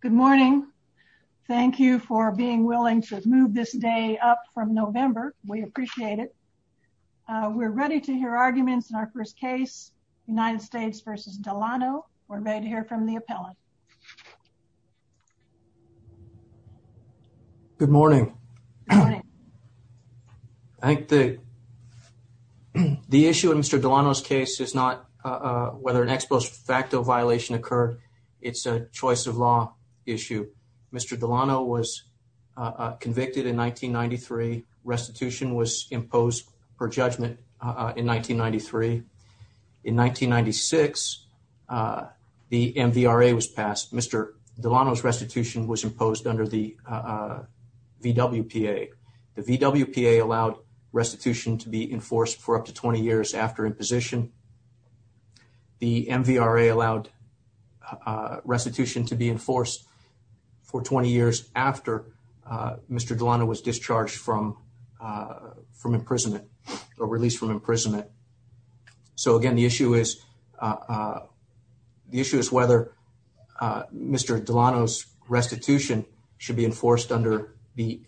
Good morning. Thank you for being willing to move this day up from November. We appreciate it. We're ready to hear arguments in our first case, United States v. Delano. We're ready to hear from the appellant. Good morning. Good morning. I think the issue in Mr. Delano's case is not whether an ex post facto violation occurred. It's a choice of law issue. Mr. Delano was convicted in 1993. Restitution was imposed per judgment in 1993. In 1996, the MVRA was passed. Mr. Delano's restitution was imposed under the VWPA. The VWPA allowed restitution to be enforced for up to 20 years after imposition. The MVRA allowed restitution to be enforced for 20 years after Mr. Delano was discharged from imprisonment or released from imprisonment. So, again, the issue is whether Mr. Delano's restitution should be enforced under the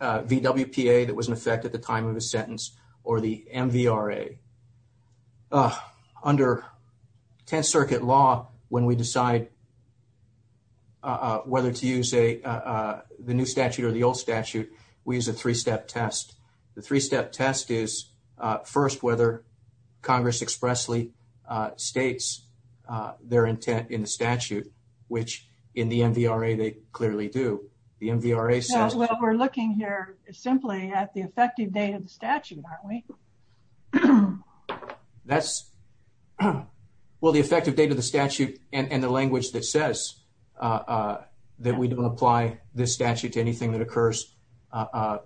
VWPA that was in effect at the time of his sentence or the MVRA. Under Tenth Circuit law, when we decide whether to use the new statute or the old statute, we use a three-step test. The three-step test is, first, whether Congress expressly states their intent in the statute, which in the MVRA they clearly do. The MVRA says... Well, we're looking here simply at the effective date of the statute, aren't we? That's... Well, the effective date of the statute and the language that says that we don't apply this statute to anything that occurs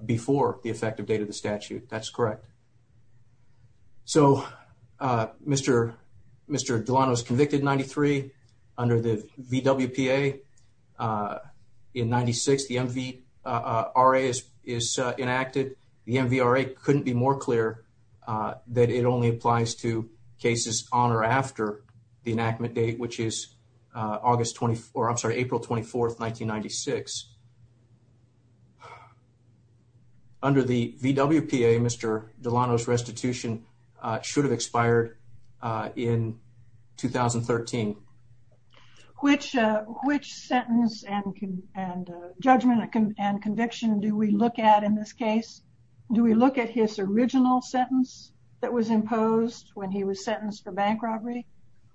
before the effective date of the statute, that's correct. So, Mr. Delano is convicted in 93. Under the VWPA in 96, the MVRA is enacted. The MVRA couldn't be more clear that it only applies to cases on or after the enactment date, which is April 24, 1996. Under the VWPA, Mr. Delano's restitution should have expired in 2013. Which sentence and judgment and conviction do we look at in this case? Do we look at his original sentence that was imposed when he was sentenced for bank robbery?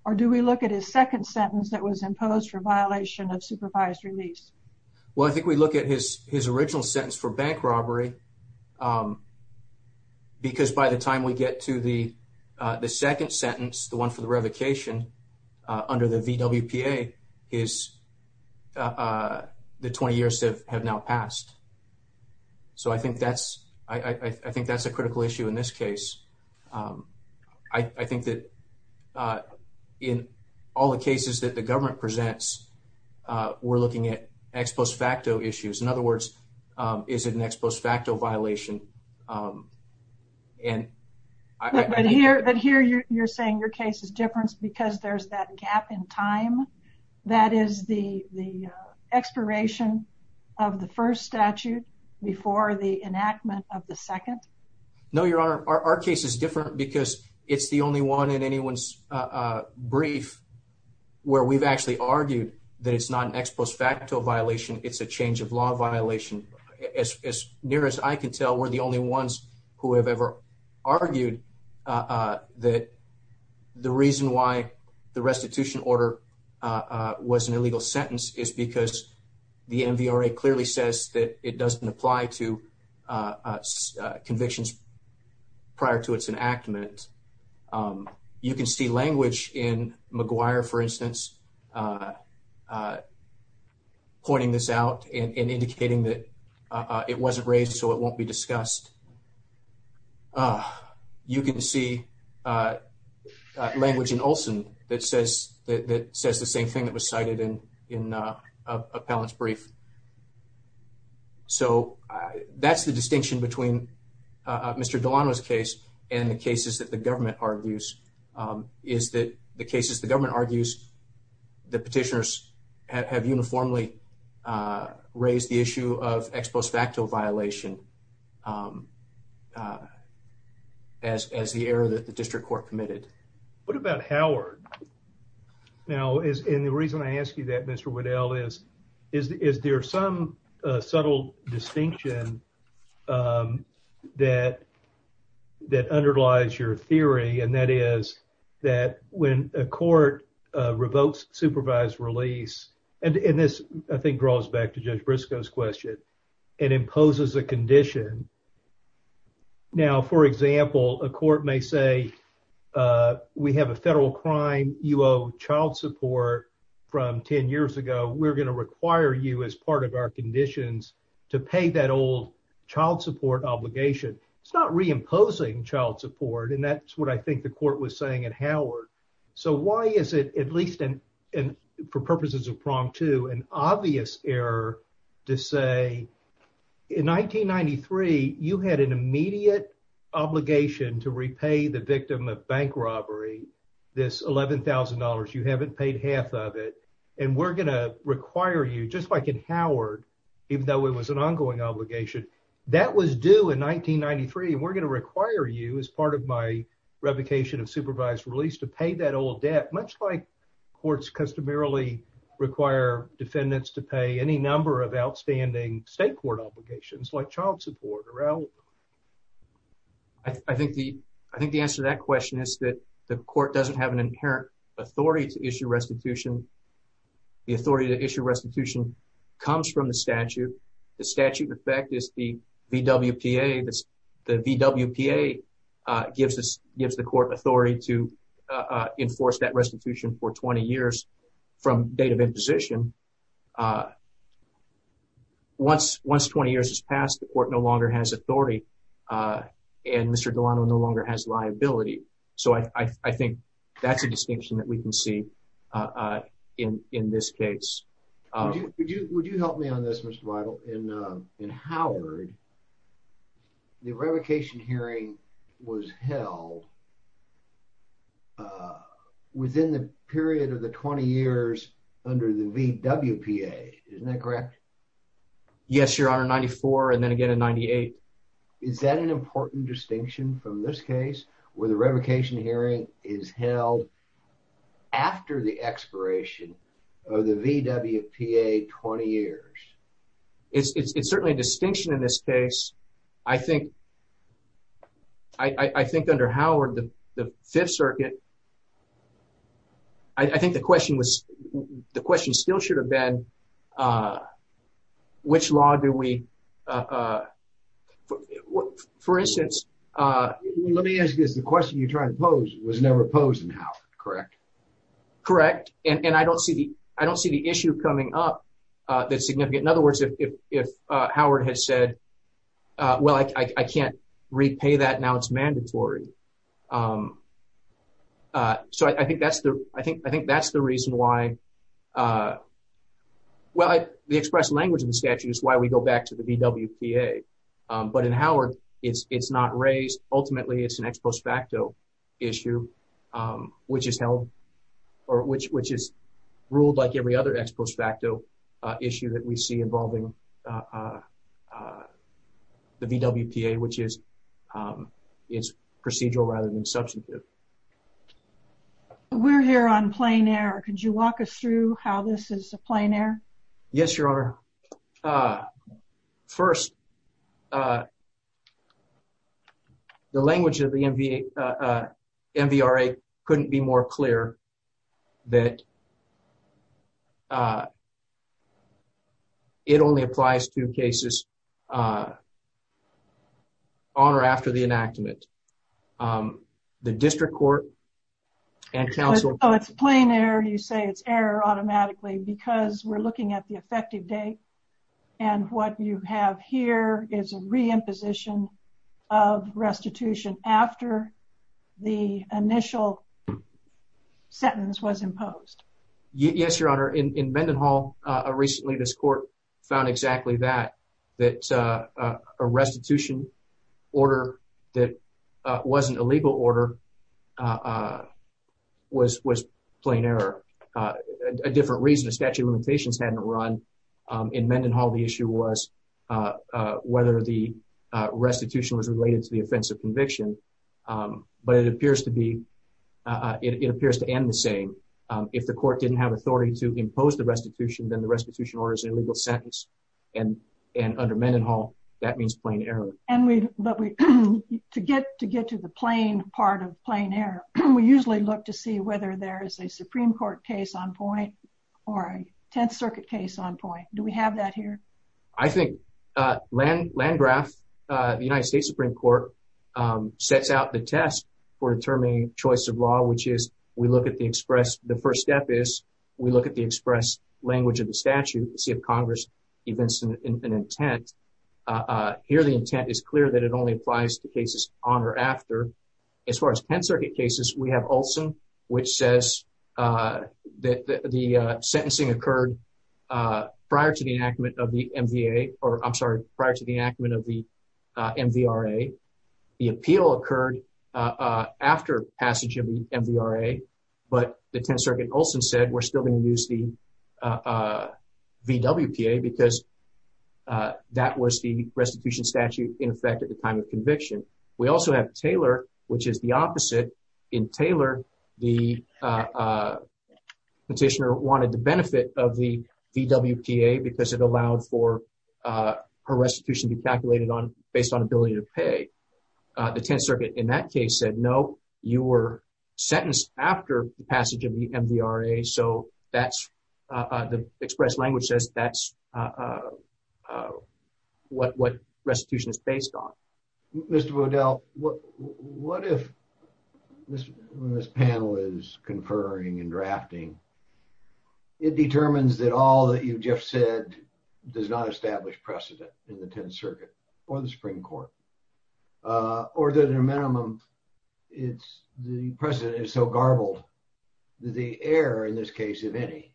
Or do we look at his second sentence that was imposed for violation of supervised release? Well, I think we look at his original sentence for bank robbery because by the time we get to the second sentence, the one for the revocation, under the VWPA, the 20 years have now passed. So, I think that's a critical issue in this case. I think that in all the cases that the government presents, we're looking at ex post facto issues. In other words, is it an ex post facto violation? But here you're saying your case is different because there's that gap in time, that is the expiration of the first statute before the enactment of the second? No, Your Honor. Our case is different because it's the only one in anyone's brief where we've actually argued that it's not an ex post facto violation, it's a change of law violation. As near as I can tell, we're the only ones who have ever argued that the reason why the restitution order was an illegal sentence is because the MVRA clearly says that it doesn't apply to convictions prior to its enactment. You can see language in McGuire, for instance, pointing this out and indicating that it wasn't raised so it won't be discussed. You can see language in Olson that says the same thing that was cited in Appellant's brief. So that's the distinction between Mr. Delano's case and the cases that the government argues. The cases the government argues, the petitioners have uniformly raised the issue of ex post facto violation as the error that the district court committed. What about Howard? Now, the reason I ask you that, Mr. Waddell, is there some subtle distinction that underlies your theory, and that is that when a court revokes supervised release, and this I think draws back to Judge Briscoe's question, and imposes a condition, now, for example, a court may say we have a federal crime, you owe child support from 10 years ago, we're going to require you as part of our conditions to pay that old child support obligation. It's not reimposing child support, and that's what I think the court was saying at Howard. So why is it, at least for purposes of prong two, an obvious error to say in 1993, you had an immediate obligation to repay the victim of bank robbery, this $11,000, you haven't paid half of it, and we're going to require you, just like in Howard, even though it was an ongoing obligation, that was due in 1993, and we're going to require you, as part of my revocation of supervised release, to pay that old debt, much like courts customarily require defendants to pay any number of outstanding state court obligations, like child support. I think the answer to that question is that the court doesn't have an inherent authority to issue restitution. The authority to issue restitution comes from the statute. The statute, in fact, is the VWPA. The VWPA gives the court authority to enforce that restitution for 20 years from date of imposition. Once 20 years has passed, the court no longer has authority, and Mr. Delano no longer has liability. So I think that's a distinction that we can see in this case. Would you help me on this, Mr. Weidel? In Howard, the revocation hearing was held within the period of the 20 years under the VWPA, isn't that correct? Yes, Your Honor, in 1994, and then again in 1998. Is that an important distinction from this case, where the revocation hearing is held after the expiration of the VWPA 20 years? It's certainly a distinction in this case. I think under Howard, the Fifth Circuit, I think the question still should have been, which law do we… For instance… Let me ask you this. The question you're trying to pose was never posed in Howard, correct? Correct. And I don't see the issue coming up that's significant. In other words, if Howard has said, well, I can't repay that, now it's mandatory. So I think that's the reason why… Well, the express language in the statute is why we go back to the VWPA, but in Howard, it's not raised. Ultimately, it's an ex post facto issue, which is ruled like every other ex post facto issue that we see involving the VWPA, which is procedural rather than substantive. We're here on plain air. Could you walk us through how this is a plain air? Yes, Your Honor. First, the language of the MVRA couldn't be more clear that it only applies to cases on or after the enactment. The district court and counsel… Oh, it's plain air. You say it's air automatically because we're looking at the effective date. And what you have here is a re-imposition of restitution after the initial sentence was imposed. Yes, Your Honor. In Mendenhall, recently this court found exactly that, that a restitution order that wasn't a legal order was plain air. A different reason the statute of limitations hadn't run. In Mendenhall, the issue was whether the restitution was related to the offense of conviction, but it appears to be… it appears to end the same. If the court didn't have authority to impose the restitution, then the restitution order is an illegal sentence. And under Mendenhall, that means plain air. To get to the plain part of plain air, we usually look to see whether there is a Supreme Court case on point or a Tenth Circuit case on point. Do we have that here? I think Landgraf, the United States Supreme Court, sets out the test for determining choice of law, which is we look at the express… the first step is we look at the express language of the statute to see if Congress evinces an intent. Here, the intent is clear that it only applies to cases on or after. As far as Tenth Circuit cases, we have Olson, which says that the sentencing occurred prior to the enactment of the MVRA. The appeal occurred after passage of the MVRA, but the Tenth Circuit Olson said we're still going to use the VWPA because that was the restitution statute in effect at the time of conviction. We also have Taylor, which is the opposite. In Taylor, the petitioner wanted the benefit of the VWPA because it allowed for a restitution to be calculated based on ability to pay. The Tenth Circuit in that case said no, you were sentenced after the passage of the MVRA, so that's… the express language says that's what restitution is based on. Mr. Waddell, what if… when this panel is conferring and drafting, it determines that all that you just said does not establish precedent in the Tenth Circuit or the Supreme Court, or that at a minimum, it's… the precedent is so garbled that the error in this case, if any,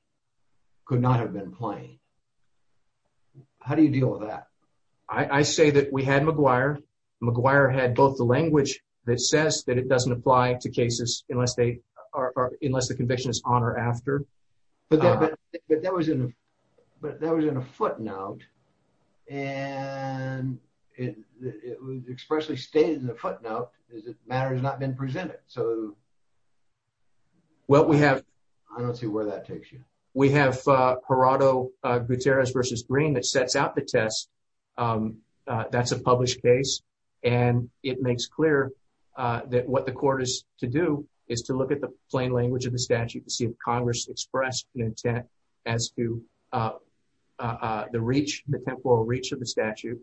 could not have been plain. How do you deal with that? I say that we had McGuire. McGuire had both the language that says that it doesn't apply to cases unless they are… unless the conviction is on or after. But that was in a footnote, and it was expressly stated in the footnote that the matter has not been presented, so… Well, we have… I don't see where that takes you. We have Gerardo Gutierrez v. Green that sets out the test. That's a published case, and it makes clear that what the court is to do is to look at the plain language of the statute to see if Congress expressed an intent as to the reach, the temporal reach of the statute.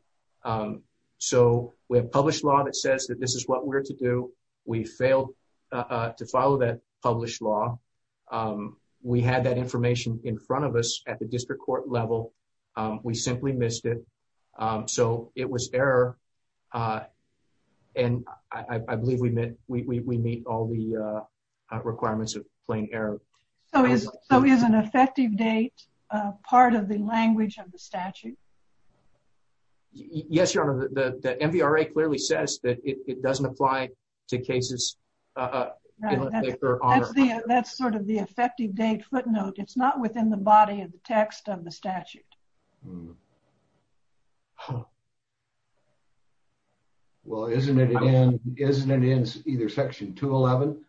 So, we have published law that says that this is what we're to do. We failed to follow that published law. We had that information in front of us at the district court level. We simply missed it. So, it was error, and I believe we met… we meet all the requirements of plain error. So, is an effective date part of the language of the statute? Yes, Your Honor. The MVRA clearly says that it doesn't apply to cases unless they are on or after. That's sort of the effective date footnote. It's not within the body of the text of the statute. Well, isn't it in… isn't it in either Section 211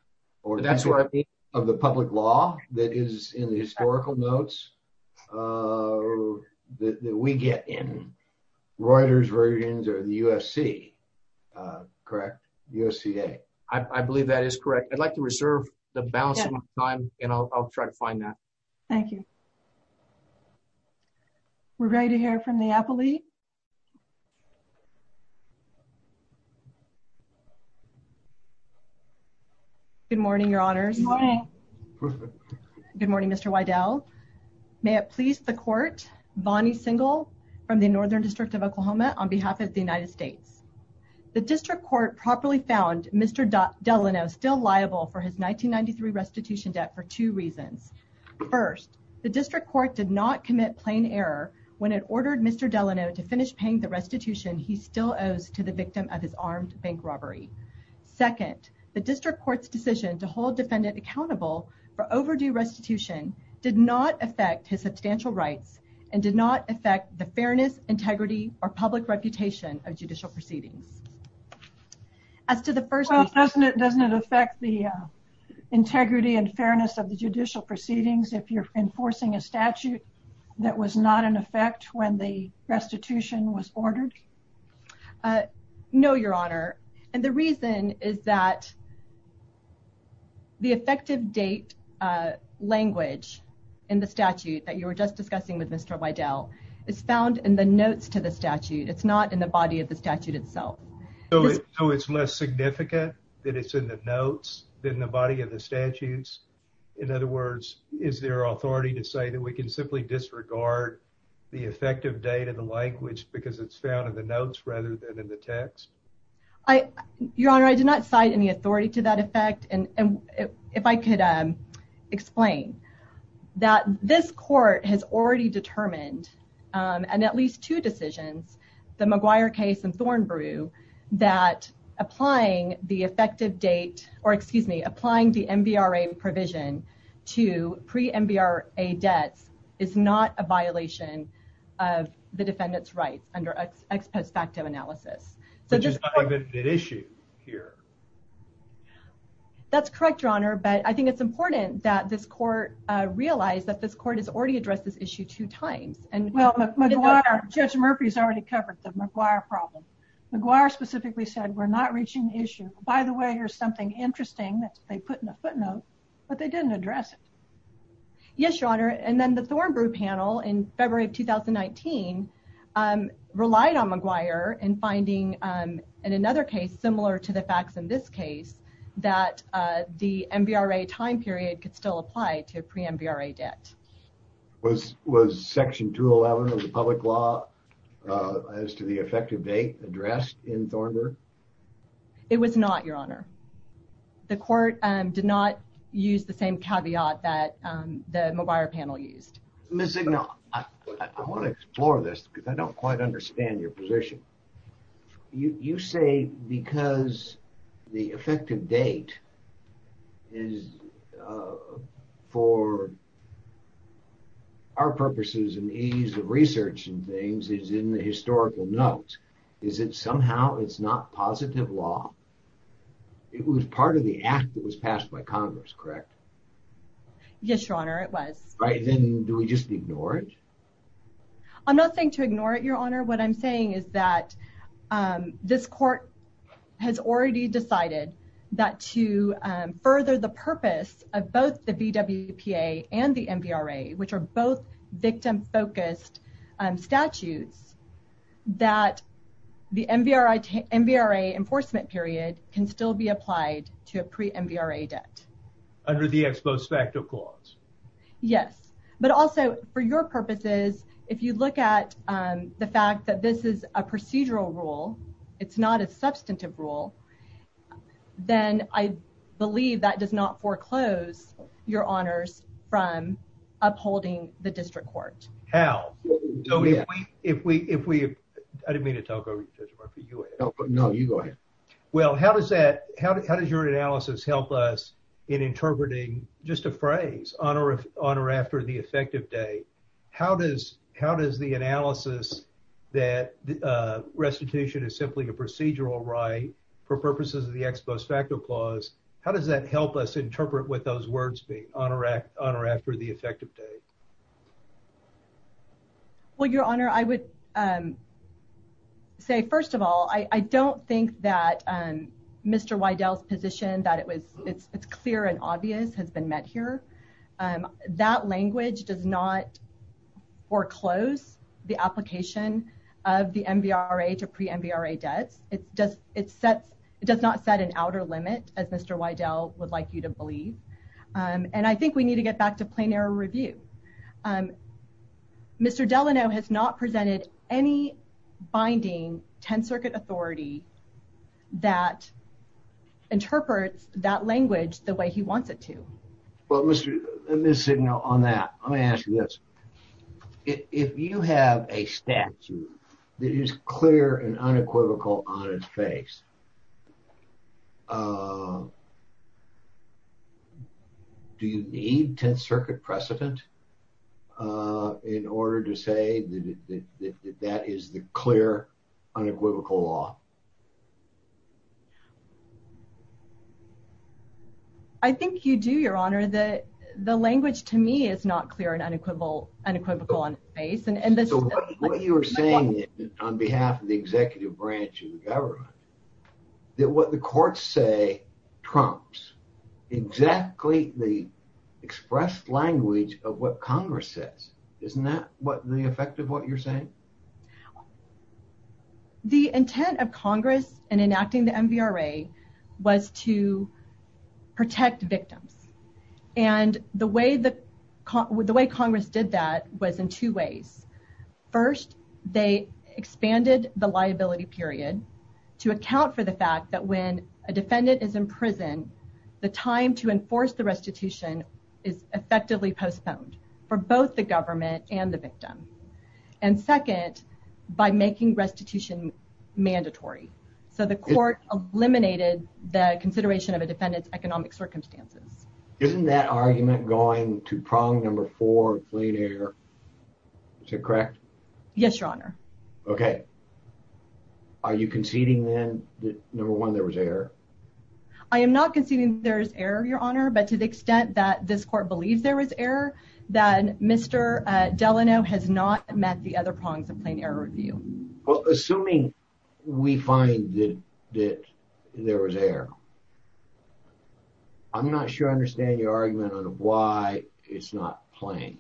of the public law that is in the historical notes that we get in? Reuters' versions or the USC, correct? USCA? I believe that is correct. I'd like to reserve the balance of my time, and I'll try to find that. Thank you. We're ready to hear from the appellee. Good morning, Your Honors. Good morning. Good morning, Mr. Wydell. May it please the court, Bonnie Singal from the Northern District of Oklahoma on behalf of the United States. The district court properly found Mr. Delano still liable for his 1993 restitution debt for two reasons. First, the district court did not commit plain error when it ordered Mr. Delano to finish paying the restitution he still owes to the victim of his armed bank robbery. Second, the district court's decision to hold defendant accountable for overdue restitution did not affect his substantial rights and did not affect the fairness, integrity, or public reputation of judicial proceedings. As to the first… Well, doesn't it affect the integrity and fairness of the judicial proceedings if you're enforcing a statute that was not in effect when the restitution was ordered? No, Your Honor. And the reason is that the effective date language in the statute that you were just discussing with Mr. Wydell is found in the notes to the statute. It's not in the body of the statute itself. So it's less significant that it's in the notes than the body of the statutes? In other words, is there authority to say that we can simply disregard the effective date of the language because it's found in the notes rather than in the text? Your Honor, I did not cite any authority to that effect. If I could explain. This court has already determined in at least two decisions, the McGuire case and Thornbrew, that applying the MVRA provision to pre-MVRA debts is not a violation of the defendant's rights under ex post facto analysis. Which is not an issue here. That's correct, Your Honor. But I think it's important that this court realize that this court has already addressed this issue two times. Judge Murphy's already covered the McGuire problem. McGuire specifically said, we're not reaching the issue. By the way, here's something interesting that they put in the footnote, but they didn't address it. Yes, Your Honor. And then the Thornbrew panel in February of 2019 relied on McGuire and finding in another case similar to the facts in this case, that the MVRA time period could still apply to pre-MVRA debt. Was Section 211 of the public law as to the effective date addressed in Thornbrew? It was not, Your Honor. The court did not use the same caveat that the McGuire panel used. Ms. Zignal, I want to explore this because I don't quite understand your position. You say because the effective date is for our purposes and ease of research and things is in the historical notes. Is it somehow it's not positive law? It was part of the act that was passed by Congress, correct? Yes, Your Honor, it was. Then do we just ignore it? I'm not saying to ignore it, Your Honor. What I'm saying is that this court has already decided that to further the purpose of both the VWPA and the MVRA, which are both victim-focused statutes, that the MVRA enforcement period can still be applied to a pre-MVRA debt. Under the ex post facto clause? Yes, but also for your purposes, if you look at the fact that this is a procedural rule, it's not a substantive rule, then I believe that does not foreclose your honors from upholding the district court. How? I didn't mean to talk over you, Judge Murphy. No, you go ahead. Well, how does your analysis help us in interpreting just a phrase, on or after the effective date? How does the analysis that restitution is simply a procedural right for purposes of the ex post facto clause, how does that help us interpret what those words mean, on or after the effective date? Well, Your Honor, I would say, first of all, I don't think that Mr. Wydell's position that it's clear and obvious has been met here. That language does not foreclose the application of the MVRA to pre-MVRA debts. It does not set an outer limit, as Mr. Wydell would like you to believe. And I think we need to get back to plain error review. Mr. Delano has not presented any binding 10th Circuit authority that interprets that language the way he wants it to. Well, Ms. Signo, on that, let me ask you this. If you have a statute that is clear and unequivocal on its face, do you need 10th Circuit precedent in order to say that that is the clear, unequivocal law? I think you do, Your Honor. The language to me is not clear and unequivocal on its face. So what you're saying on behalf of the executive branch of the government, that what the courts say trumps exactly the expressed language of what Congress says. Isn't that the effect of what you're saying? The intent of Congress in enacting the MVRA was to protect victims. And the way Congress did that was in two ways. First, they expanded the liability period to account for the fact that when a defendant is in prison, the time to enforce the restitution is effectively postponed for both the government and the victim. And second, by making restitution mandatory. So the court eliminated the consideration of a defendant's economic circumstances. Isn't that argument going to prong number four, fleet error? Is that correct? Yes, Your Honor. Okay. Are you conceding, then, that number one, there was error? I am not conceding there's error, Your Honor. But to the extent that this court believes there was error, then Mr. Delano has not met the other prongs of plain error review. Well, assuming we find that there was error, I'm not sure I understand your argument on why it's not plain.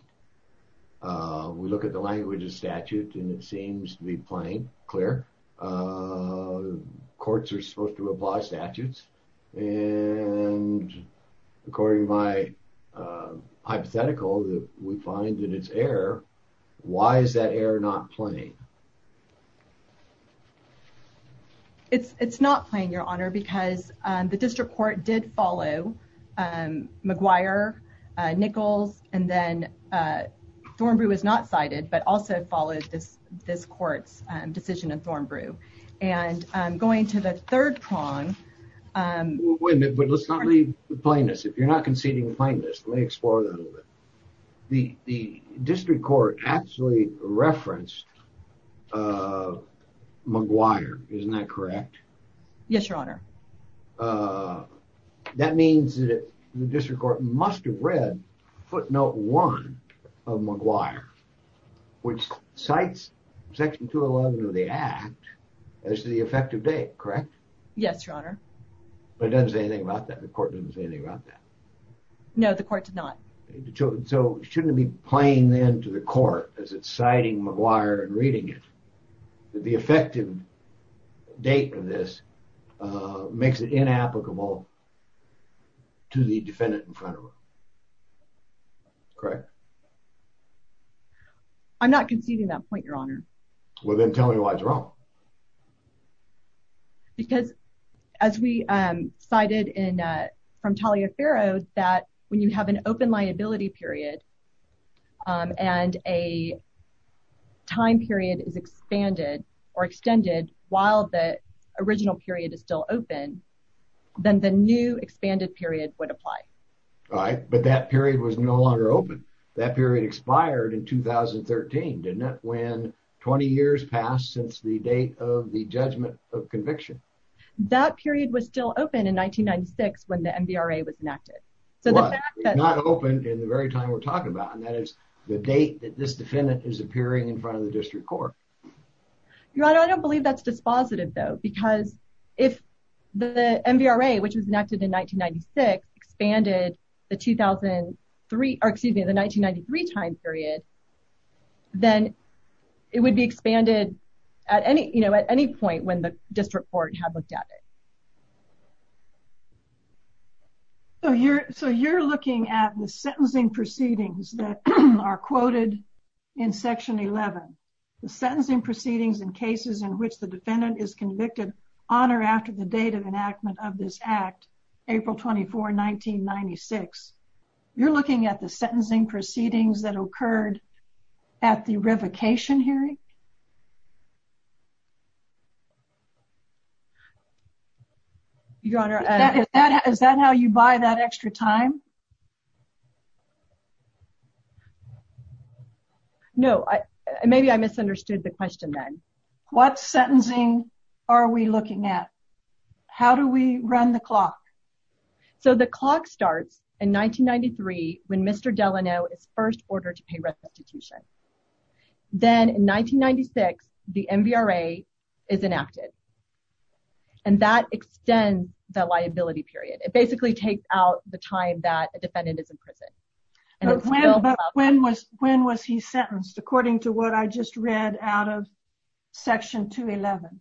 We look at the language of statute, and it seems to be plain, clear. Courts are supposed to apply statutes, and according to my hypothetical, we find that it's error. Why is that error not plain? It's not plain, Your Honor, because the district court did follow McGuire, Nichols, and then Thornbrew was not cited, but also followed this court's decision in Thornbrew. And going to the third prong... Wait a minute, but let's not leave the plainness. If you're not conceding the plainness, let me explore that a little bit. The district court actually referenced McGuire, isn't that correct? Yes, Your Honor. That means that the district court must have read footnote one of McGuire, which cites section 211 of the act as the effective date, correct? Yes, Your Honor. But it doesn't say anything about that? The court didn't say anything about that? No, the court did not. So shouldn't it be plain then to the court, as it's citing McGuire and reading it, that the effective date of this makes it inapplicable to the defendant in front of him? Correct? I'm not conceding that point, Your Honor. Because as we cited from Talia Farrow, that when you have an open liability period and a time period is expanded or extended while the original period is still open, then the new expanded period would apply. Right, but that period was no longer open. That period expired in 2013, didn't it, when 20 years passed since the date of the judgment of conviction? That period was still open in 1996 when the MVRA was enacted. It's not open in the very time we're talking about, and that is the date that this defendant is appearing in front of the district court. Your Honor, I don't believe that's dispositive, though, because if the MVRA, which was enacted in 1996, expanded the 1993 time period, then it would be expanded at any point when the district court had looked at it. So you're looking at the sentencing proceedings that are quoted in Section 11, the sentencing proceedings in cases in which the defendant is convicted on or after the date of enactment of this Act, April 24, 1996. You're looking at the sentencing proceedings that occurred at the revocation hearing? Your Honor, is that how you buy that extra time? No, maybe I misunderstood the question then. What sentencing are we looking at? How do we run the clock? So the clock starts in 1993 when Mr. Delano is first ordered to pay restitution. Then in 1996, the MVRA is enacted, and that extends the liability period. It basically takes out the time that a defendant is in prison. But when was he sentenced, according to what I just read out of Section 211?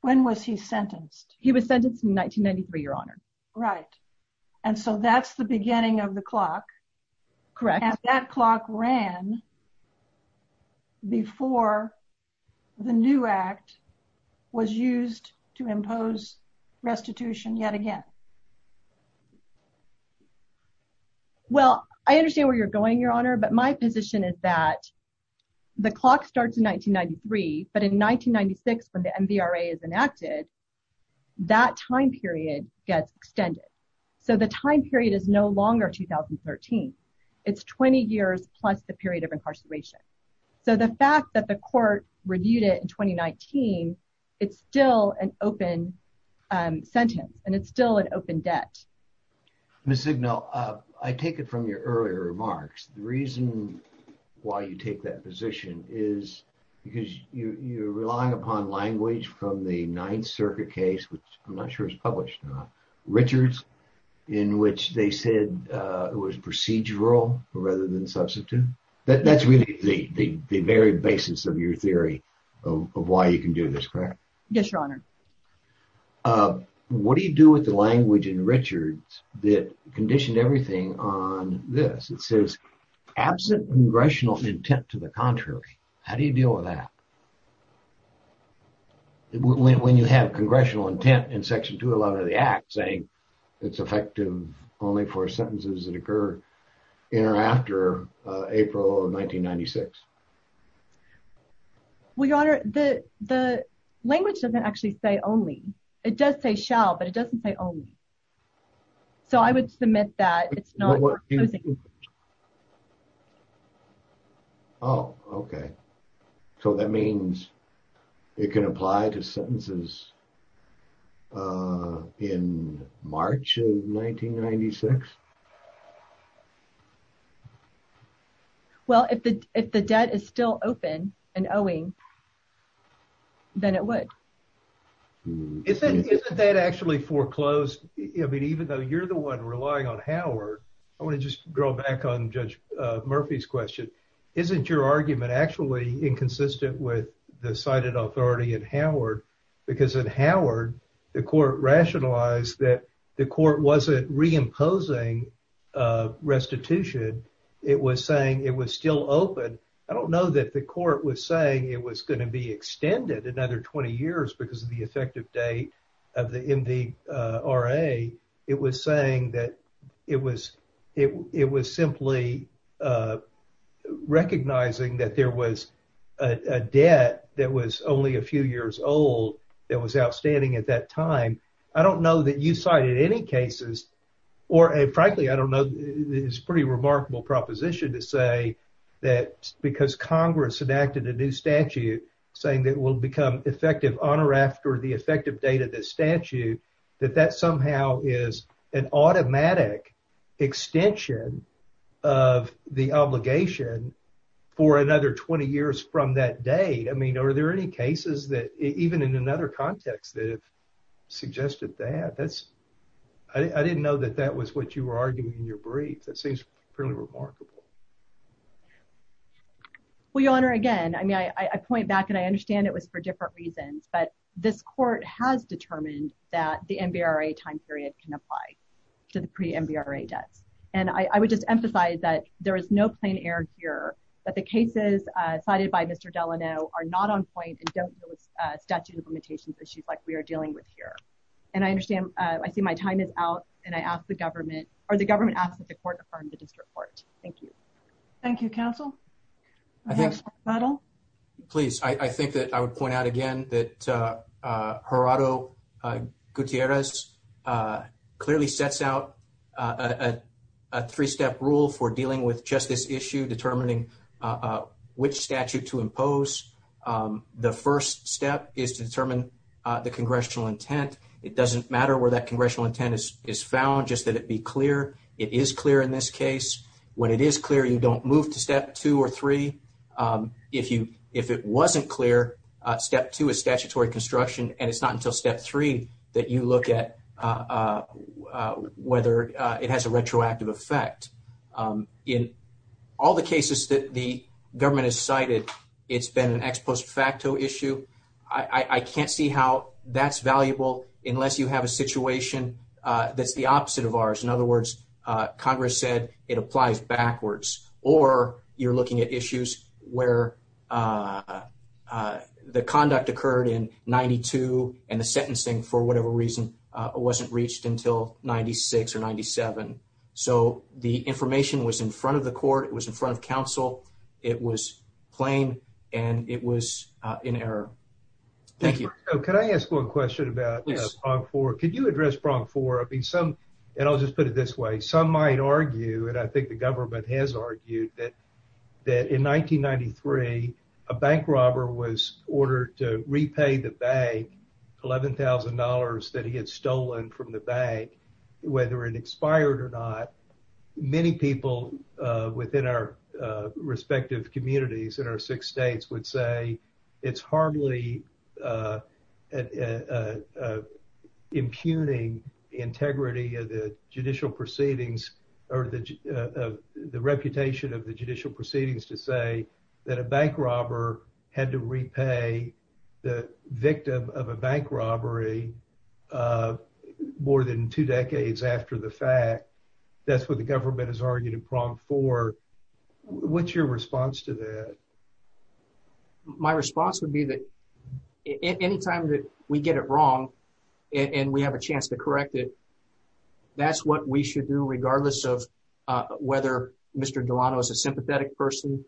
When was he sentenced? He was sentenced in 1993, Your Honor. Right. And so that's the beginning of the clock. Correct. And that clock ran before the new Act was used to impose restitution yet again. Well, I understand where you're going, Your Honor, but my position is that the clock starts in 1993, but in 1996, when the MVRA is enacted, that time period gets extended. So the time period is no longer 2013. It's 20 years plus the period of incarceration. So the fact that the court reviewed it in 2019, it's still an open sentence, and it's still an open debt. Ms. Zignal, I take it from your earlier remarks. The reason why you take that position is because you're relying upon language from the Ninth Circuit case, which I'm not sure is published or not, Richards, in which they said it was procedural rather than substitute. That's really the very basis of your theory of why you can do this, correct? Yes, Your Honor. What do you do with the language in Richards that conditioned everything on this? It says, absent congressional intent to the contrary. How do you deal with that? When you have congressional intent in Section 211 of the Act saying it's effective only for sentences that occur in or after April of 1996? Well, Your Honor, the language doesn't actually say only. It does say shall, but it doesn't say only. So I would submit that it's not opposing. Oh, OK. So that means it can apply to sentences in March of 1996? Well, if the debt is still open and owing, then it would. Isn't that actually foreclosed? I mean, even though you're the one relying on Howard, I want to just draw back on Judge Murphy's question. Isn't your argument actually inconsistent with the cited authority in Howard? Because in Howard, the court rationalized that the court wasn't reimposing restitution. It was saying it was still open. I don't know that the court was saying it was going to be extended another 20 years because of the effective date of the MVRA. It was saying that it was simply recognizing that there was a debt that was only a few years old that was outstanding at that time. I don't know that you cited any cases, or frankly, I don't know. It's a pretty remarkable proposition to say that because Congress enacted a new statute saying that it will become effective on or after the effective date of the statute, that that somehow is an automatic extension of the obligation for another 20 years from that date. I mean, are there any cases that, even in another context, that have suggested that? I didn't know that that was what you were arguing in your brief. That seems pretty remarkable. Well, Your Honor, again, I point back, and I understand it was for different reasons, but this court has determined that the MVRA time period can apply to the pre-MVRA debts. And I would just emphasize that there is no plain error here, that the cases cited by Mr. Delano are not on point and don't deal with statute of limitations issues like we are dealing with here. And I understand, I see my time is out, and I ask the government, or the government asks that the court affirm the district court. Thank you. Thank you, counsel. I think that I would point out again that Gerardo Gutierrez clearly sets out a three-step rule for dealing with just this issue, determining which statute to impose. The first step is to determine the congressional intent. It doesn't matter where that congressional intent is found, just that it be clear. It is clear in this case. When it is clear, you don't move to step two or three. If it wasn't clear, step two is statutory construction, and it's not until step three that you look at whether it has a retroactive effect. In all the cases that the government has cited, it's been an ex post facto issue. I can't see how that's valuable unless you have a situation that's the opposite of ours. In other words, Congress said it applies backwards, or you're looking at issues where the conduct occurred in 92, and the sentencing, for whatever reason, wasn't reached until 96 or 97. So the information was in front of the court. It was in front of counsel. It was plain, and it was in error. Thank you. So could I ask one question about prong four? Yes. Could you address prong four? I'll just put it this way. Some might argue, and I think the government has argued, that in 1993, a bank robber was ordered to repay the bank $11,000 that he had stolen from the bank, whether it expired or not. Many people within our respective communities in our six states would say it's hardly impugning the integrity of the judicial proceedings, or the reputation of the judicial proceedings, to say that a bank robber had to repay the victim of a bank robbery more than two decades after the fact. That's what the government has argued in prong four. What's your response to that? My response would be that any time that we get it wrong and we have a chance to correct it, that's what we should do regardless of whether Mr. Delano is a sympathetic person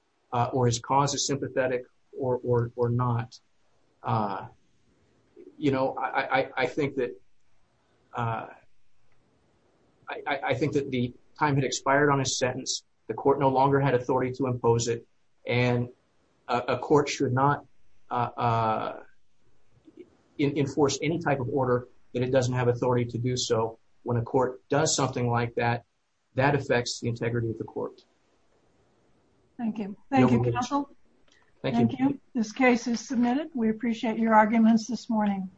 or his cause is sympathetic or not. You know, I think that the time had expired on his sentence. The court no longer had authority to impose it, and a court should not enforce any type of order that it doesn't have authority to do so. When a court does something like that, that affects the integrity of the court. Thank you. Thank you, counsel. Thank you. This case is submitted. We appreciate your arguments this morning.